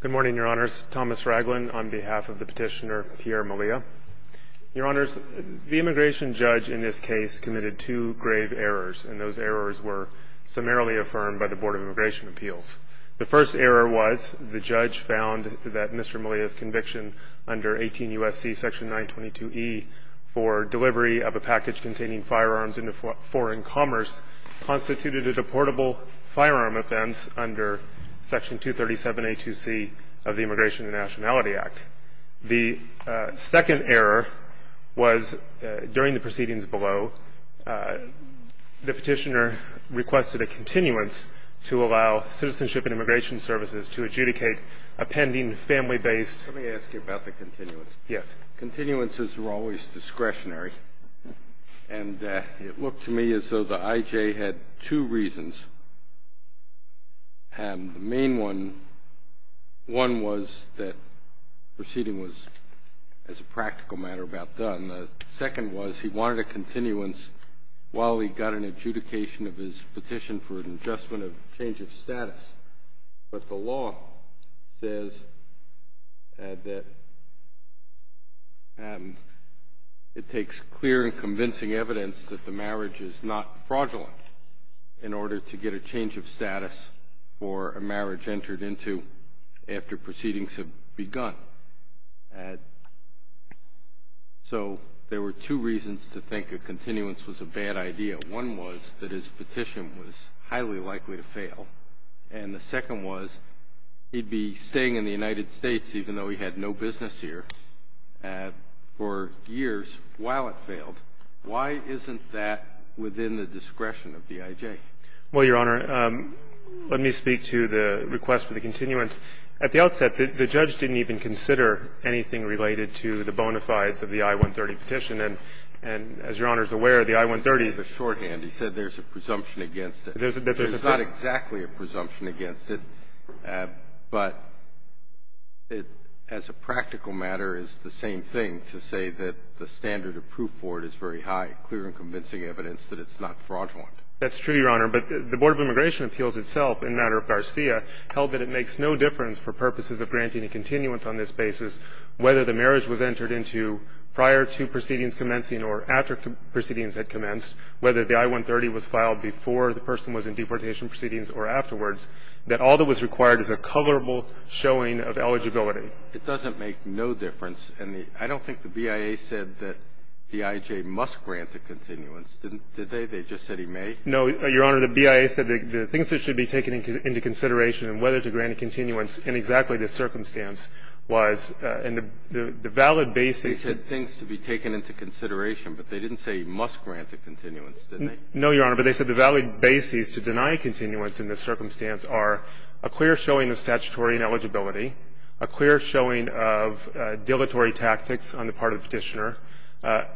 Good morning, Your Honors. Thomas Raglin on behalf of the petitioner Pierre Malia. Your Honors, the immigration judge in this case committed two grave errors, and those errors were summarily affirmed by the Board of Immigration Appeals. The first error was the judge found that Mr. Malia's conviction under 18 U.S.C. section 922E for delivery of a package containing firearms into foreign commerce constituted a deportable firearm offense under section 237A2C of the Immigration and Nationality Act. The second error was, during the proceedings below, the petitioner requested a continuance to allow Citizenship and Immigration Services to adjudicate a pending family-based- Let me ask you about the continuance. Yes. Continuances are always discretionary, and it looked to me as though the I.J. had two reasons. The main one was that the proceeding was, as a practical matter, about done. The second was he wanted a continuance while he got an adjudication of his petition for an adjustment of change of status. But the law says that it takes clear and convincing evidence that the marriage is not fraudulent in order to get a change of status for a marriage entered into after proceedings have begun. So there were two reasons to think a continuance was a bad idea. One was that his petition was highly likely to fail. And the second was he'd be staying in the United States, even though he had no business here, for years while it failed. Why isn't that within the discretion of the I.J.? Well, Your Honor, let me speak to the request for the continuance. At the outset, the judge didn't even consider anything related to the bona fides of the I-130 petition. And as Your Honor is aware, the I-130 ---- He gave a shorthand. He said there's a presumption against it. There's not exactly a presumption against it. But it, as a practical matter, is the same thing to say that the standard of proof for it is very high, clear and convincing evidence that it's not fraudulent. That's true, Your Honor. But the Board of Immigration Appeals itself, in matter of Garcia, held that it makes no difference for purposes of granting a continuance on this basis whether the marriage was entered into prior to proceedings commencing or after proceedings had commenced, whether the I-130 was filed before the person was in deportation proceedings or afterwards, that all that was required is a coverable showing of eligibility. It doesn't make no difference. And I don't think the BIA said that the I.J. must grant a continuance. Did they? They just said he may? No, Your Honor. The BIA said the things that should be taken into consideration and whether to grant a continuance in exactly this circumstance was, and the valid basis ---- They said things to be taken into consideration, but they didn't say he must grant a continuance, did they? No, Your Honor. But they said the valid basis to deny a continuance in this circumstance are a clear showing of statutory ineligibility, a clear showing of dilatory tactics on the part of the Petitioner,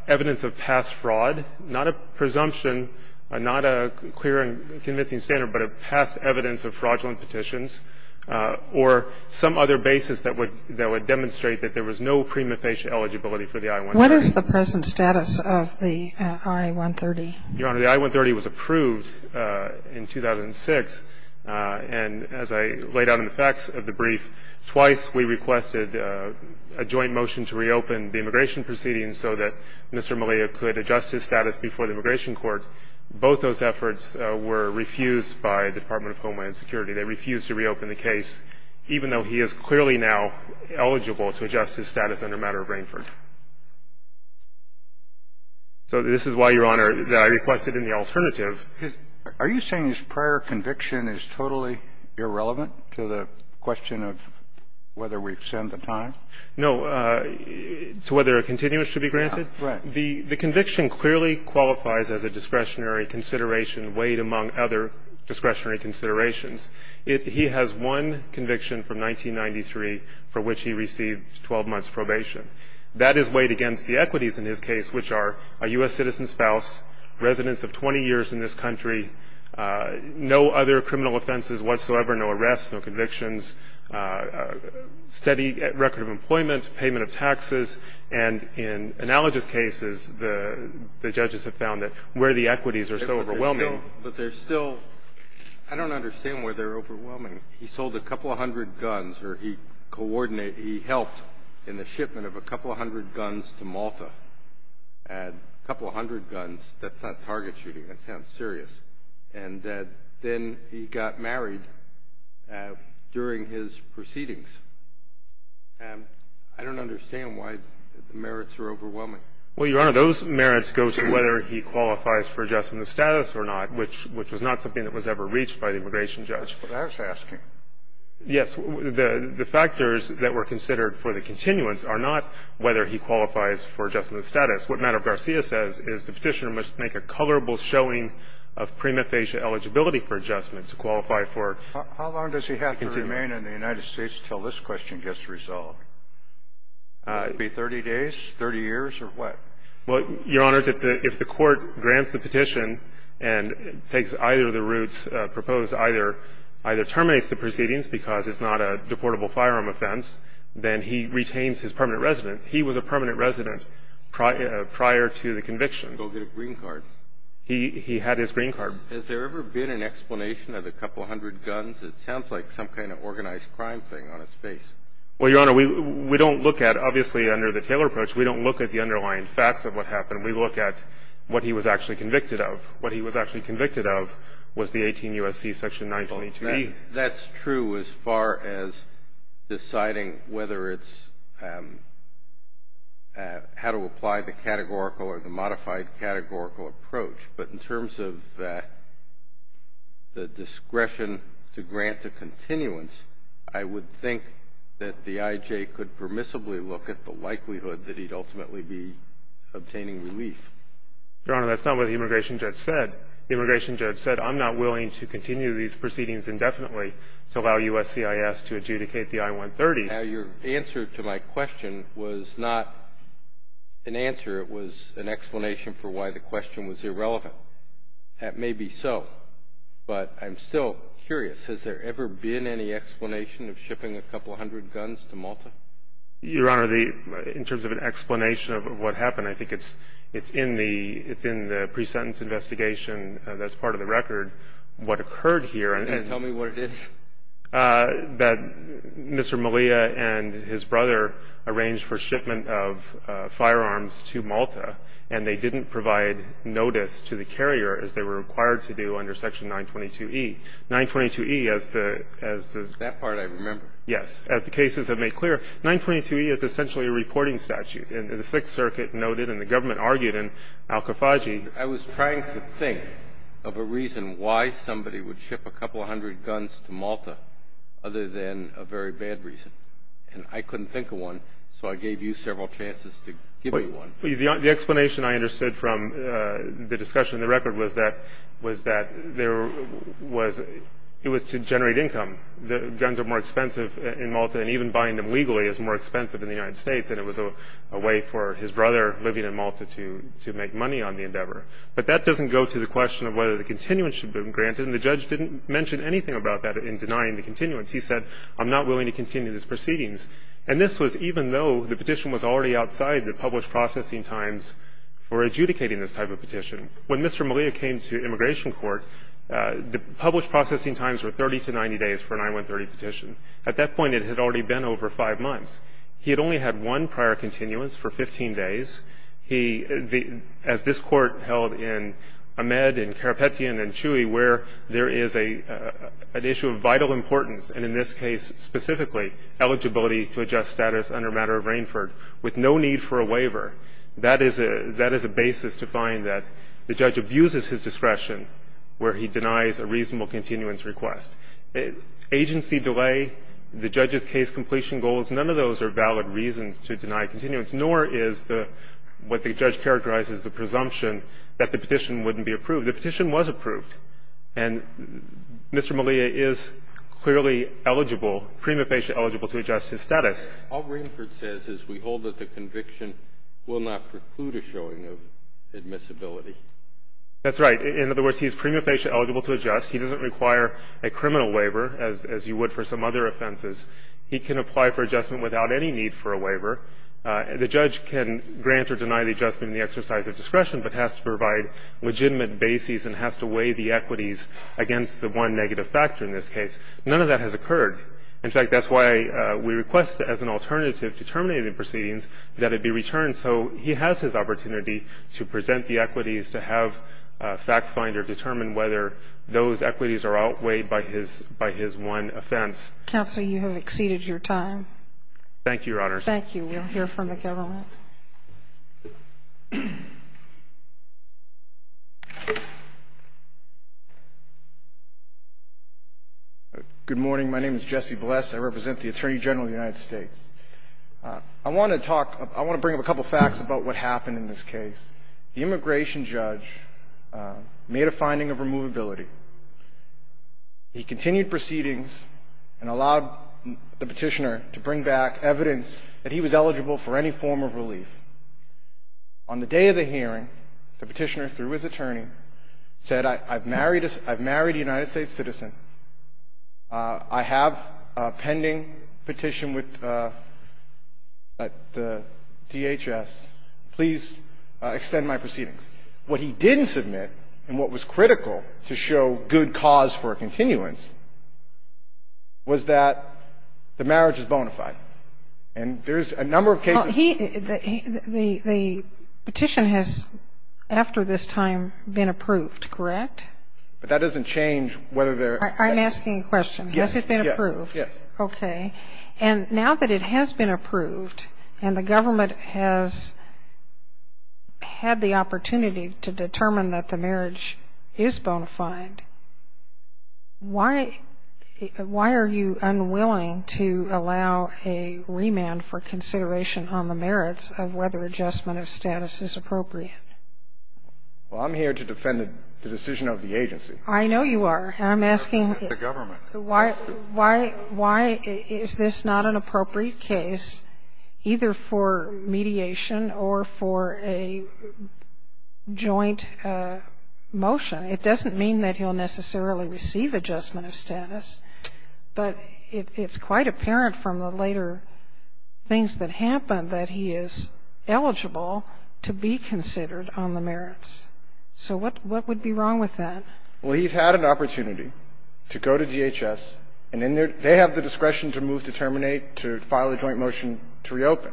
evidence of past fraud, not a presumption, not a clear and convincing standard, but a past evidence of fraudulent petitions, or some other basis that would demonstrate that there was no prima facie eligibility for the I-130. What is the present status of the I-130? Your Honor, the I-130 was approved in 2006. And as I laid out in the facts of the brief, twice we requested a joint motion to reopen the immigration proceedings so that Mr. Melea could adjust his status before the Immigration Court. Both those efforts were refused by the Department of Homeland Security. They refused to reopen the case, even though he is clearly now eligible to adjust his status under matter of Rainford. So this is why, Your Honor, I requested an alternative. Are you saying his prior conviction is totally irrelevant to the question of whether we've sent the time? No. To whether a continuous should be granted? Right. The conviction clearly qualifies as a discretionary consideration weighed among other discretionary considerations. He has one conviction from 1993 for which he received 12 months' probation. That is weighed against the equities in his case, which are a U.S. citizen spouse, residence of 20 years in this country, no other criminal offenses whatsoever, no arrests, no convictions, steady record of employment, payment of taxes. And in analogous cases, the judges have found that where the equities are so overwhelming But there's still – I don't understand where they're overwhelming. He sold a couple of hundred guns, or he helped in the shipment of a couple of hundred guns to Malta, a couple of hundred guns. That's not target shooting. That sounds serious. And then he got married during his proceedings. And I don't understand why the merits are overwhelming. Well, Your Honor, those merits go to whether he qualifies for adjustment of status or not, which was not something that was ever reached by the immigration judge. That's what I was asking. Yes. The factors that were considered for the continuance are not whether he qualifies for adjustment of status. What Madam Garcia says is the petitioner must make a colorable showing of prima facie eligibility for adjustment to qualify for continuance. How long does he have to remain in the United States until this question gets resolved? It would be 30 days, 30 years, or what? Well, Your Honor, if the Court grants the petition and takes either of the routes proposed, either terminates the proceedings because it's not a deportable firearm offense, then he retains his permanent residence. He was a permanent resident prior to the conviction. Go get a green card. He had his green card. Has there ever been an explanation of a couple hundred guns? It sounds like some kind of organized crime thing on its face. Well, Your Honor, we don't look at, obviously, under the Taylor approach, we don't look at the underlying facts of what happened. We look at what he was actually convicted of. What he was actually convicted of was the 18 U.S.C. section 922E. That's true as far as deciding whether it's how to apply the categorical or the modified categorical approach. But in terms of the discretion to grant a continuance, I would think that the I.J. could permissibly look at the likelihood that he'd ultimately be obtaining relief. Your Honor, that's not what the immigration judge said. I'm not willing to continue these proceedings indefinitely to allow USCIS to adjudicate the I-130. Now, your answer to my question was not an answer. It was an explanation for why the question was irrelevant. That may be so, but I'm still curious. Has there ever been any explanation of shipping a couple hundred guns to Malta? Your Honor, in terms of an explanation of what happened, I think it's in the pre-sentence investigation that's part of the record, what occurred here. Can you tell me what it is? That Mr. Malia and his brother arranged for shipment of firearms to Malta, and they didn't provide notice to the carrier as they were required to do under section 922E. 922E, as the – That part I remember. Yes. As the cases have made clear, 922E is essentially a reporting statute. And the Sixth Circuit noted and the government argued in Al-Khafaji. I was trying to think of a reason why somebody would ship a couple hundred guns to Malta other than a very bad reason. And I couldn't think of one, so I gave you several chances to give me one. The explanation I understood from the discussion in the record was that there was – it was to generate income. Guns are more expensive in Malta, and even buying them legally is more expensive in the United States. And it was a way for his brother living in Malta to make money on the endeavor. But that doesn't go to the question of whether the continuance should have been granted. And the judge didn't mention anything about that in denying the continuance. He said, I'm not willing to continue these proceedings. And this was even though the petition was already outside the published processing times for adjudicating this type of petition. When Mr. Malia came to immigration court, the published processing times were 30 to 90 days for an I-130 petition. At that point, it had already been over five months. He had only had one prior continuance for 15 days. He – as this Court held in Ahmed and Karapetian and Chui, where there is an issue of vital importance, and in this case specifically, eligibility to adjust status under a matter of Rainford, with no need for a waiver. That is a basis to find that the judge abuses his discretion where he denies a reasonable continuance request. Agency delay, the judge's case completion goals, none of those are valid reasons to deny continuance, nor is the – what the judge characterized as the presumption that the petition wouldn't be approved. The petition was approved. And Mr. Malia is clearly eligible, prima facie eligible to adjust his status. All Rainford says is we hold that the conviction will not preclude a showing of admissibility. That's right. In other words, he's prima facie eligible to adjust. He doesn't require a criminal waiver, as you would for some other offenses. He can apply for adjustment without any need for a waiver. The judge can grant or deny the adjustment in the exercise of discretion, but has to provide legitimate bases and has to weigh the equities against the one negative factor in this case. None of that has occurred. In fact, that's why we request that as an alternative to terminating the proceedings that it be returned so he has his opportunity to present the equities, to have a fact finder determine whether those equities are outweighed by his one offense. Counsel, you have exceeded your time. Thank you, Your Honors. Thank you. We'll hear from the government. Good morning. My name is Jesse Bless. I represent the Attorney General of the United States. I want to bring up a couple of facts about what happened in this case. The immigration judge made a finding of removability. He continued proceedings and allowed the Petitioner to bring back evidence that he was eligible for any form of relief. On the day of the hearing, the Petitioner, through his attorney, said, I've married a United States citizen. I have a pending petition with the DHS. Please extend my proceedings. I have a pending petition with the DHS. Please extend my proceedings. What he didn't submit and what was critical to show good cause for a continuance was that the marriage is bona fide. And there's a number of cases. Well, he – the petition has, after this time, been approved, correct? But that doesn't change whether they're – I'm asking a question. Yes. Has it been approved? Yes. Okay. And now that it has been approved and the government has had the opportunity to determine that the marriage is bona fide, why are you unwilling to allow a remand for consideration on the merits of whether adjustment of status is appropriate? Well, I'm here to defend the decision of the agency. I know you are. I'm asking – The government. Why is this not an appropriate case either for mediation or for a joint motion? It doesn't mean that he'll necessarily receive adjustment of status, but it's quite apparent from the later things that happened that he is eligible to be considered on the merits. So what would be wrong with that? Well, he's had an opportunity to go to DHS, and then they have the discretion to move to terminate, to file a joint motion to reopen.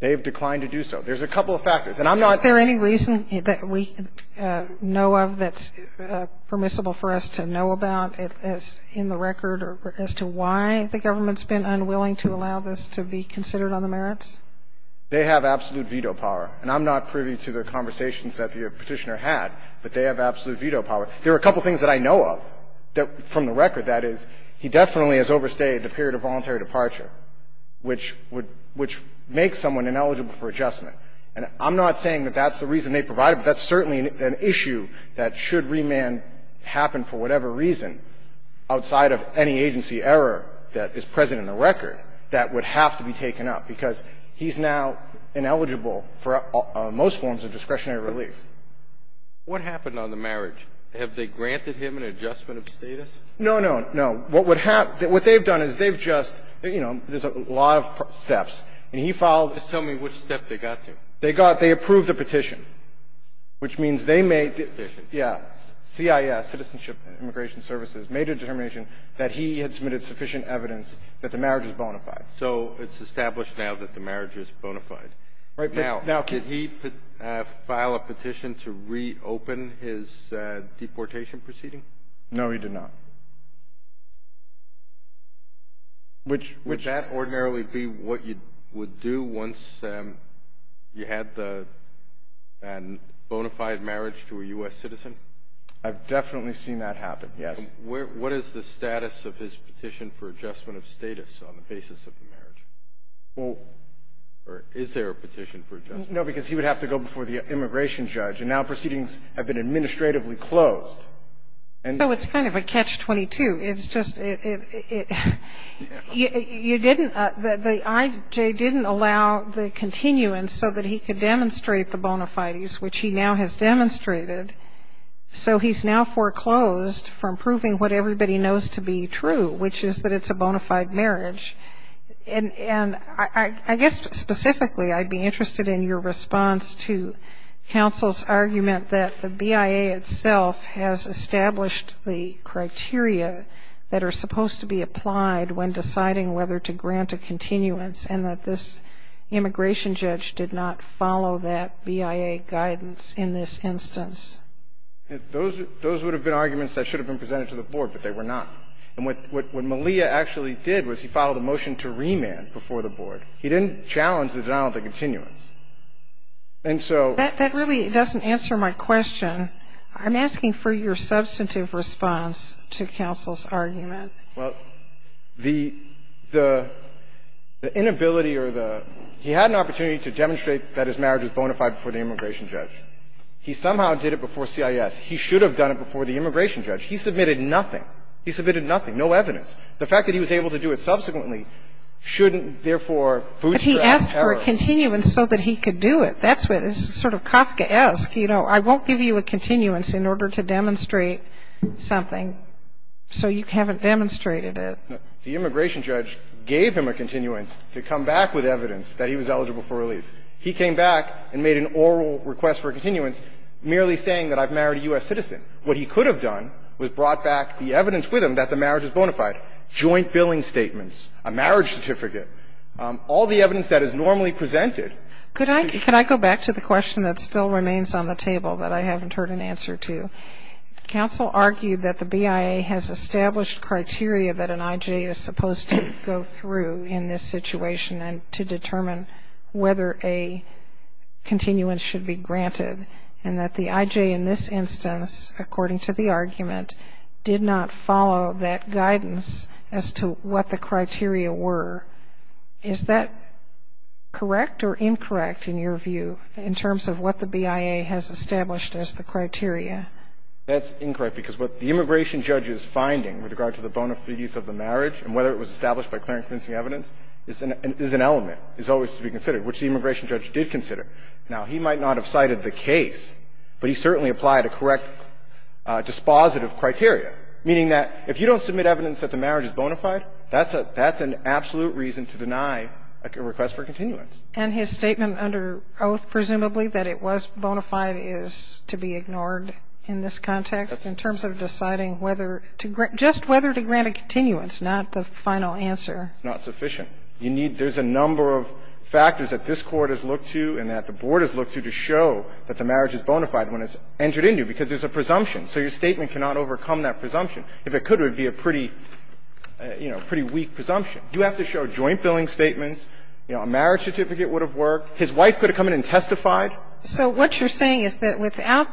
They have declined to do so. There's a couple of factors. And I'm not – Is there any reason that we know of that's permissible for us to know about in the record as to why the government's been unwilling to allow this to be considered on the merits? They have absolute veto power. And I'm not privy to the conversations that the Petitioner had, but they have absolute veto power. There are a couple of things that I know of from the record. That is, he definitely has overstayed the period of voluntary departure, which would – which makes someone ineligible for adjustment. And I'm not saying that that's the reason they provided, but that's certainly an issue that should remand happen for whatever reason outside of any agency error that is present in the record that would have to be taken up, because he's now ineligible for most forms of discretionary relief. What happened on the marriage? Have they granted him an adjustment of status? No, no, no. What would happen – what they've done is they've just – you know, there's a lot of steps. And he filed – Just tell me which step they got to. They got – they approved a petition, which means they made – Petition. Yeah. CIS, Citizenship and Immigration Services, made a determination that he had submitted sufficient evidence that the marriage is bona fide. So it's established now that the marriage is bona fide. Right. Now, could he file a petition to reopen his deportation proceeding? No, he did not. Would that ordinarily be what you would do once you had the – a bona fide marriage to a U.S. citizen? I've definitely seen that happen, yes. What is the status of his petition for adjustment of status on the basis of the marriage? Well – Or is there a petition for adjustment? No, because he would have to go before the immigration judge. And now proceedings have been administratively closed. So it's kind of a catch-22. It's just – you didn't – the IJ didn't allow the continuance so that he could demonstrate the bona fides, which he now has demonstrated. So he's now foreclosed from proving what everybody knows to be true, which is that it's a bona fide marriage. And I guess specifically I'd be interested in your response to counsel's argument that the BIA itself has established the criteria that are supposed to be applied when deciding whether to grant a continuance and that this immigration judge did not follow that BIA guidance in this instance. Those would have been arguments that should have been presented to the board, but they were not. And what Malia actually did was he filed a motion to remand before the board. He didn't challenge the denial of the continuance. And so – That really doesn't answer my question. I'm asking for your substantive response to counsel's argument. Well, the inability or the – he had an opportunity to demonstrate that his marriage was bona fide before the immigration judge. He somehow did it before CIS. He should have done it before the immigration judge. He submitted nothing. He submitted nothing, no evidence. The fact that he was able to do it subsequently shouldn't, therefore, bootstrap error. But he asked for a continuance so that he could do it. That's what is sort of Kafkaesque. You know, I won't give you a continuance in order to demonstrate something. So you haven't demonstrated it. The immigration judge gave him a continuance to come back with evidence that he was eligible for relief. He came back and made an oral request for a continuance merely saying that I've married a U.S. citizen. What he could have done was brought back the evidence with him that the marriage is bona fide, joint billing statements, a marriage certificate, all the evidence that is normally presented. Could I go back to the question that still remains on the table that I haven't heard an answer to? Counsel argued that the BIA has established criteria that an I.J. is supposed to go through in this situation and to determine whether a continuance should be granted and that the I.J. in this instance, according to the argument, did not follow that guidance as to what the criteria were. Is that correct or incorrect in your view in terms of what the BIA has established as the criteria? That's incorrect because what the immigration judge is finding with regard to the bona fides of the marriage and whether it was established by clear and convincing evidence is an element, is always to be considered, which the immigration judge did consider. Now, he might not have cited the case, but he certainly applied a correct dispositive criteria, meaning that if you don't submit evidence that the marriage is bona fide, that's an absolute reason to deny a request for continuance. And his statement under oath, presumably, that it was bona fide is to be ignored in this context in terms of deciding whether to grant, just whether to grant a continuance, not the final answer. It's not sufficient. You need, there's a number of factors that this Court has looked to and that the board has looked to to show that the marriage is bona fide when it's entered into because there's a presumption. So your statement cannot overcome that presumption. If it could, it would be a pretty, you know, pretty weak presumption. You have to show joint billing statements. You know, a marriage certificate would have worked. His wife could have come in and testified. So what you're saying is that without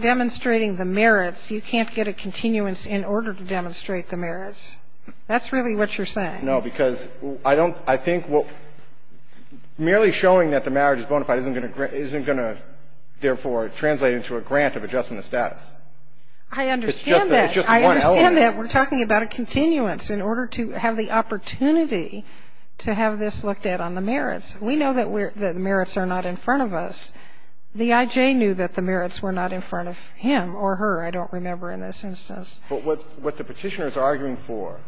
demonstrating the merits, you can't get a continuance in order to demonstrate the merits. That's really what you're saying. No, because I don't, I think merely showing that the marriage is bona fide isn't going to, therefore, translate into a grant of adjustment of status. It's just one element. I understand that. We're talking about a continuance in order to have the opportunity to have this looked at on the merits. We know that the merits are not in front of us. The I.J. knew that the merits were not in front of him or her, I don't remember, in this instance. But what the Petitioner is arguing for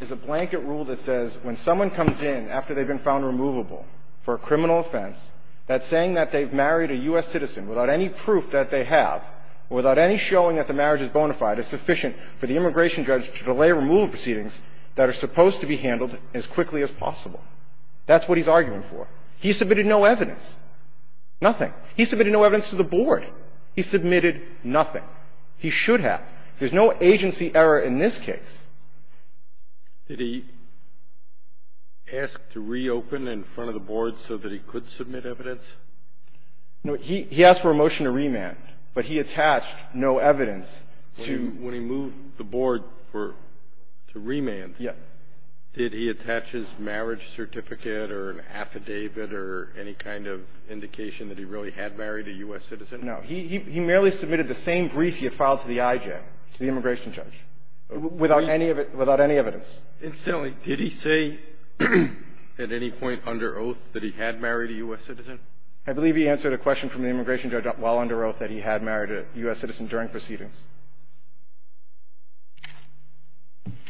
is a blanket rule that says when someone comes in after they've been found removable for a criminal offense, that saying that they've married a U.S. citizen without any proof that they have, without any showing that the marriage is bona fide, is sufficient for the immigration judge to delay removal proceedings that are supposed to be handled as quickly as possible. That's what he's arguing for. He submitted no evidence, nothing. He submitted no evidence to the board. He submitted nothing. He should have. There's no agency error in this case. Did he ask to reopen in front of the board so that he could submit evidence? No. He asked for a motion to remand, but he attached no evidence to the board. When he moved the board to remand, did he attach his marriage certificate or an affidavit or any kind of indication that he really had married a U.S. citizen? No. He merely submitted the same brief he had filed to the IJ, to the immigration judge, without any of it, without any evidence. And so did he say at any point under oath that he had married a U.S. citizen? I believe he answered a question from the immigration judge while under oath that he had married a U.S. citizen during proceedings.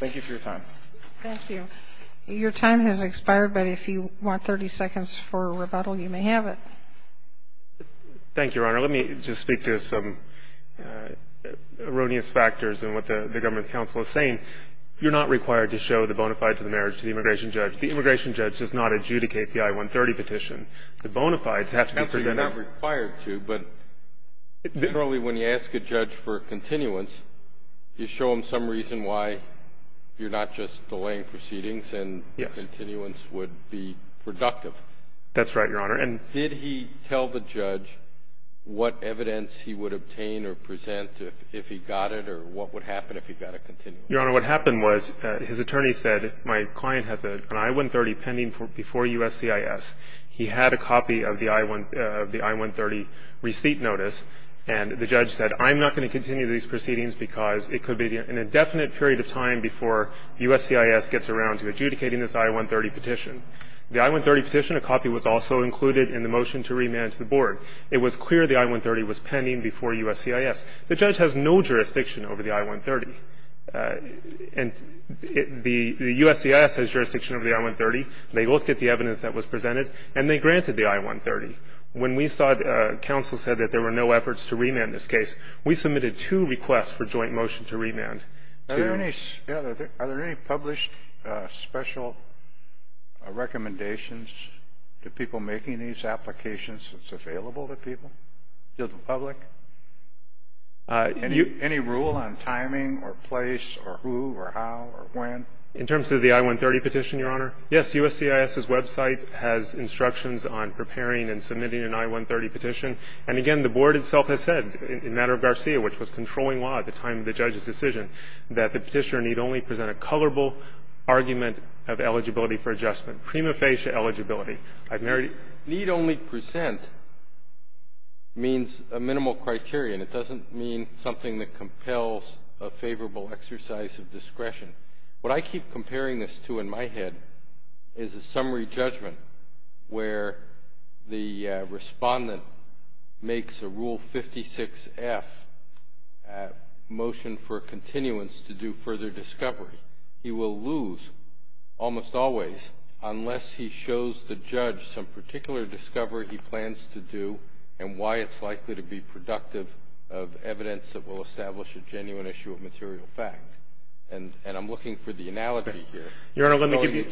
Thank you for your time. Thank you. Your time has expired, but if you want 30 seconds for rebuttal, you may have it. Thank you, Your Honor. Let me just speak to some erroneous factors in what the government's counsel is saying. You're not required to show the bona fides of the marriage to the immigration judge. The immigration judge does not adjudicate the I-130 petition. The bona fides have to be presented. Absolutely not required to, but generally when you ask a judge for continuance, you show him some reason why you're not just delaying proceedings and continuance would be productive. That's right, Your Honor. And did he tell the judge what evidence he would obtain or present if he got it or what would happen if he got a continuance? Your Honor, what happened was his attorney said my client has an I-130 pending before USCIS. He had a copy of the I-130 receipt notice, and the judge said I'm not going to continue these proceedings because it could be an indefinite period of time before USCIS gets around to adjudicating this I-130 petition. The I-130 petition, a copy was also included in the motion to remand to the board. It was clear the I-130 was pending before USCIS. The judge has no jurisdiction over the I-130. And the USCIS has jurisdiction over the I-130. They looked at the evidence that was presented, and they granted the I-130. When we thought counsel said that there were no efforts to remand this case, we submitted two requests for joint motion to remand. Are there any published special recommendations to people making these applications that's available to people, to the public? Any rule on timing or place or who or how or when? In terms of the I-130 petition, Your Honor, yes, USCIS's website has instructions on preparing and submitting an I-130 petition. And, again, the board itself has said in matter of Garcia, which was controlling law at the time of the judge's decision, that the petitioner need only present a colorful argument of eligibility for adjustment, prima facie eligibility. I've married it. Need only present means a minimal criterion. It doesn't mean something that compels a favorable exercise of discretion. What I keep comparing this to in my head is a summary judgment where the respondent makes a Rule 56-F motion for continuance to do further discovery. He will lose, almost always, unless he shows the judge some particular discovery he plans to do and why it's likely to be productive of evidence that will establish a genuine issue of material fact. And I'm looking for the analogy here. Your Honor, let me give you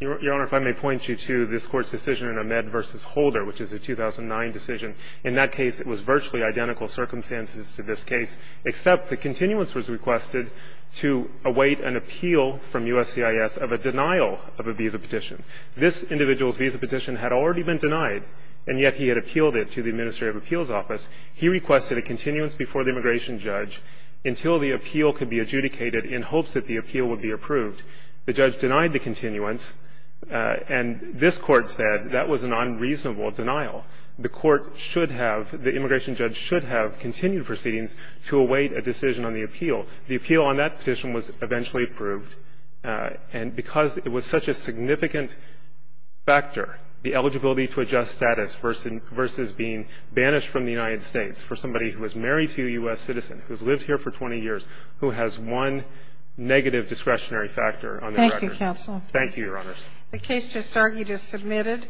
Your Honor, if I may point you to this Court's decision in Ahmed v. Holder, which is a 2009 decision. In that case, it was virtually identical circumstances to this case, except the continuance was requested to await an appeal from USCIS of a denial of a visa petition. This individual's visa petition had already been denied, and yet he had appealed it to the Administrative Appeals Office. He requested a continuance before the immigration judge until the appeal could be adjudicated in hopes that the appeal would be approved. The judge denied the continuance, and this Court said that was an unreasonable denial. The Court should have, the immigration judge should have continued proceedings to await a decision on the appeal. The appeal on that petition was eventually approved. And because it was such a significant factor, the eligibility to adjust status versus being banished from the United States for somebody who is married to a U.S. citizen who's lived here for 20 years, who has one negative discretionary factor on their record. Thank you, Counsel. Thank you, Your Honors. The case just argued is submitted.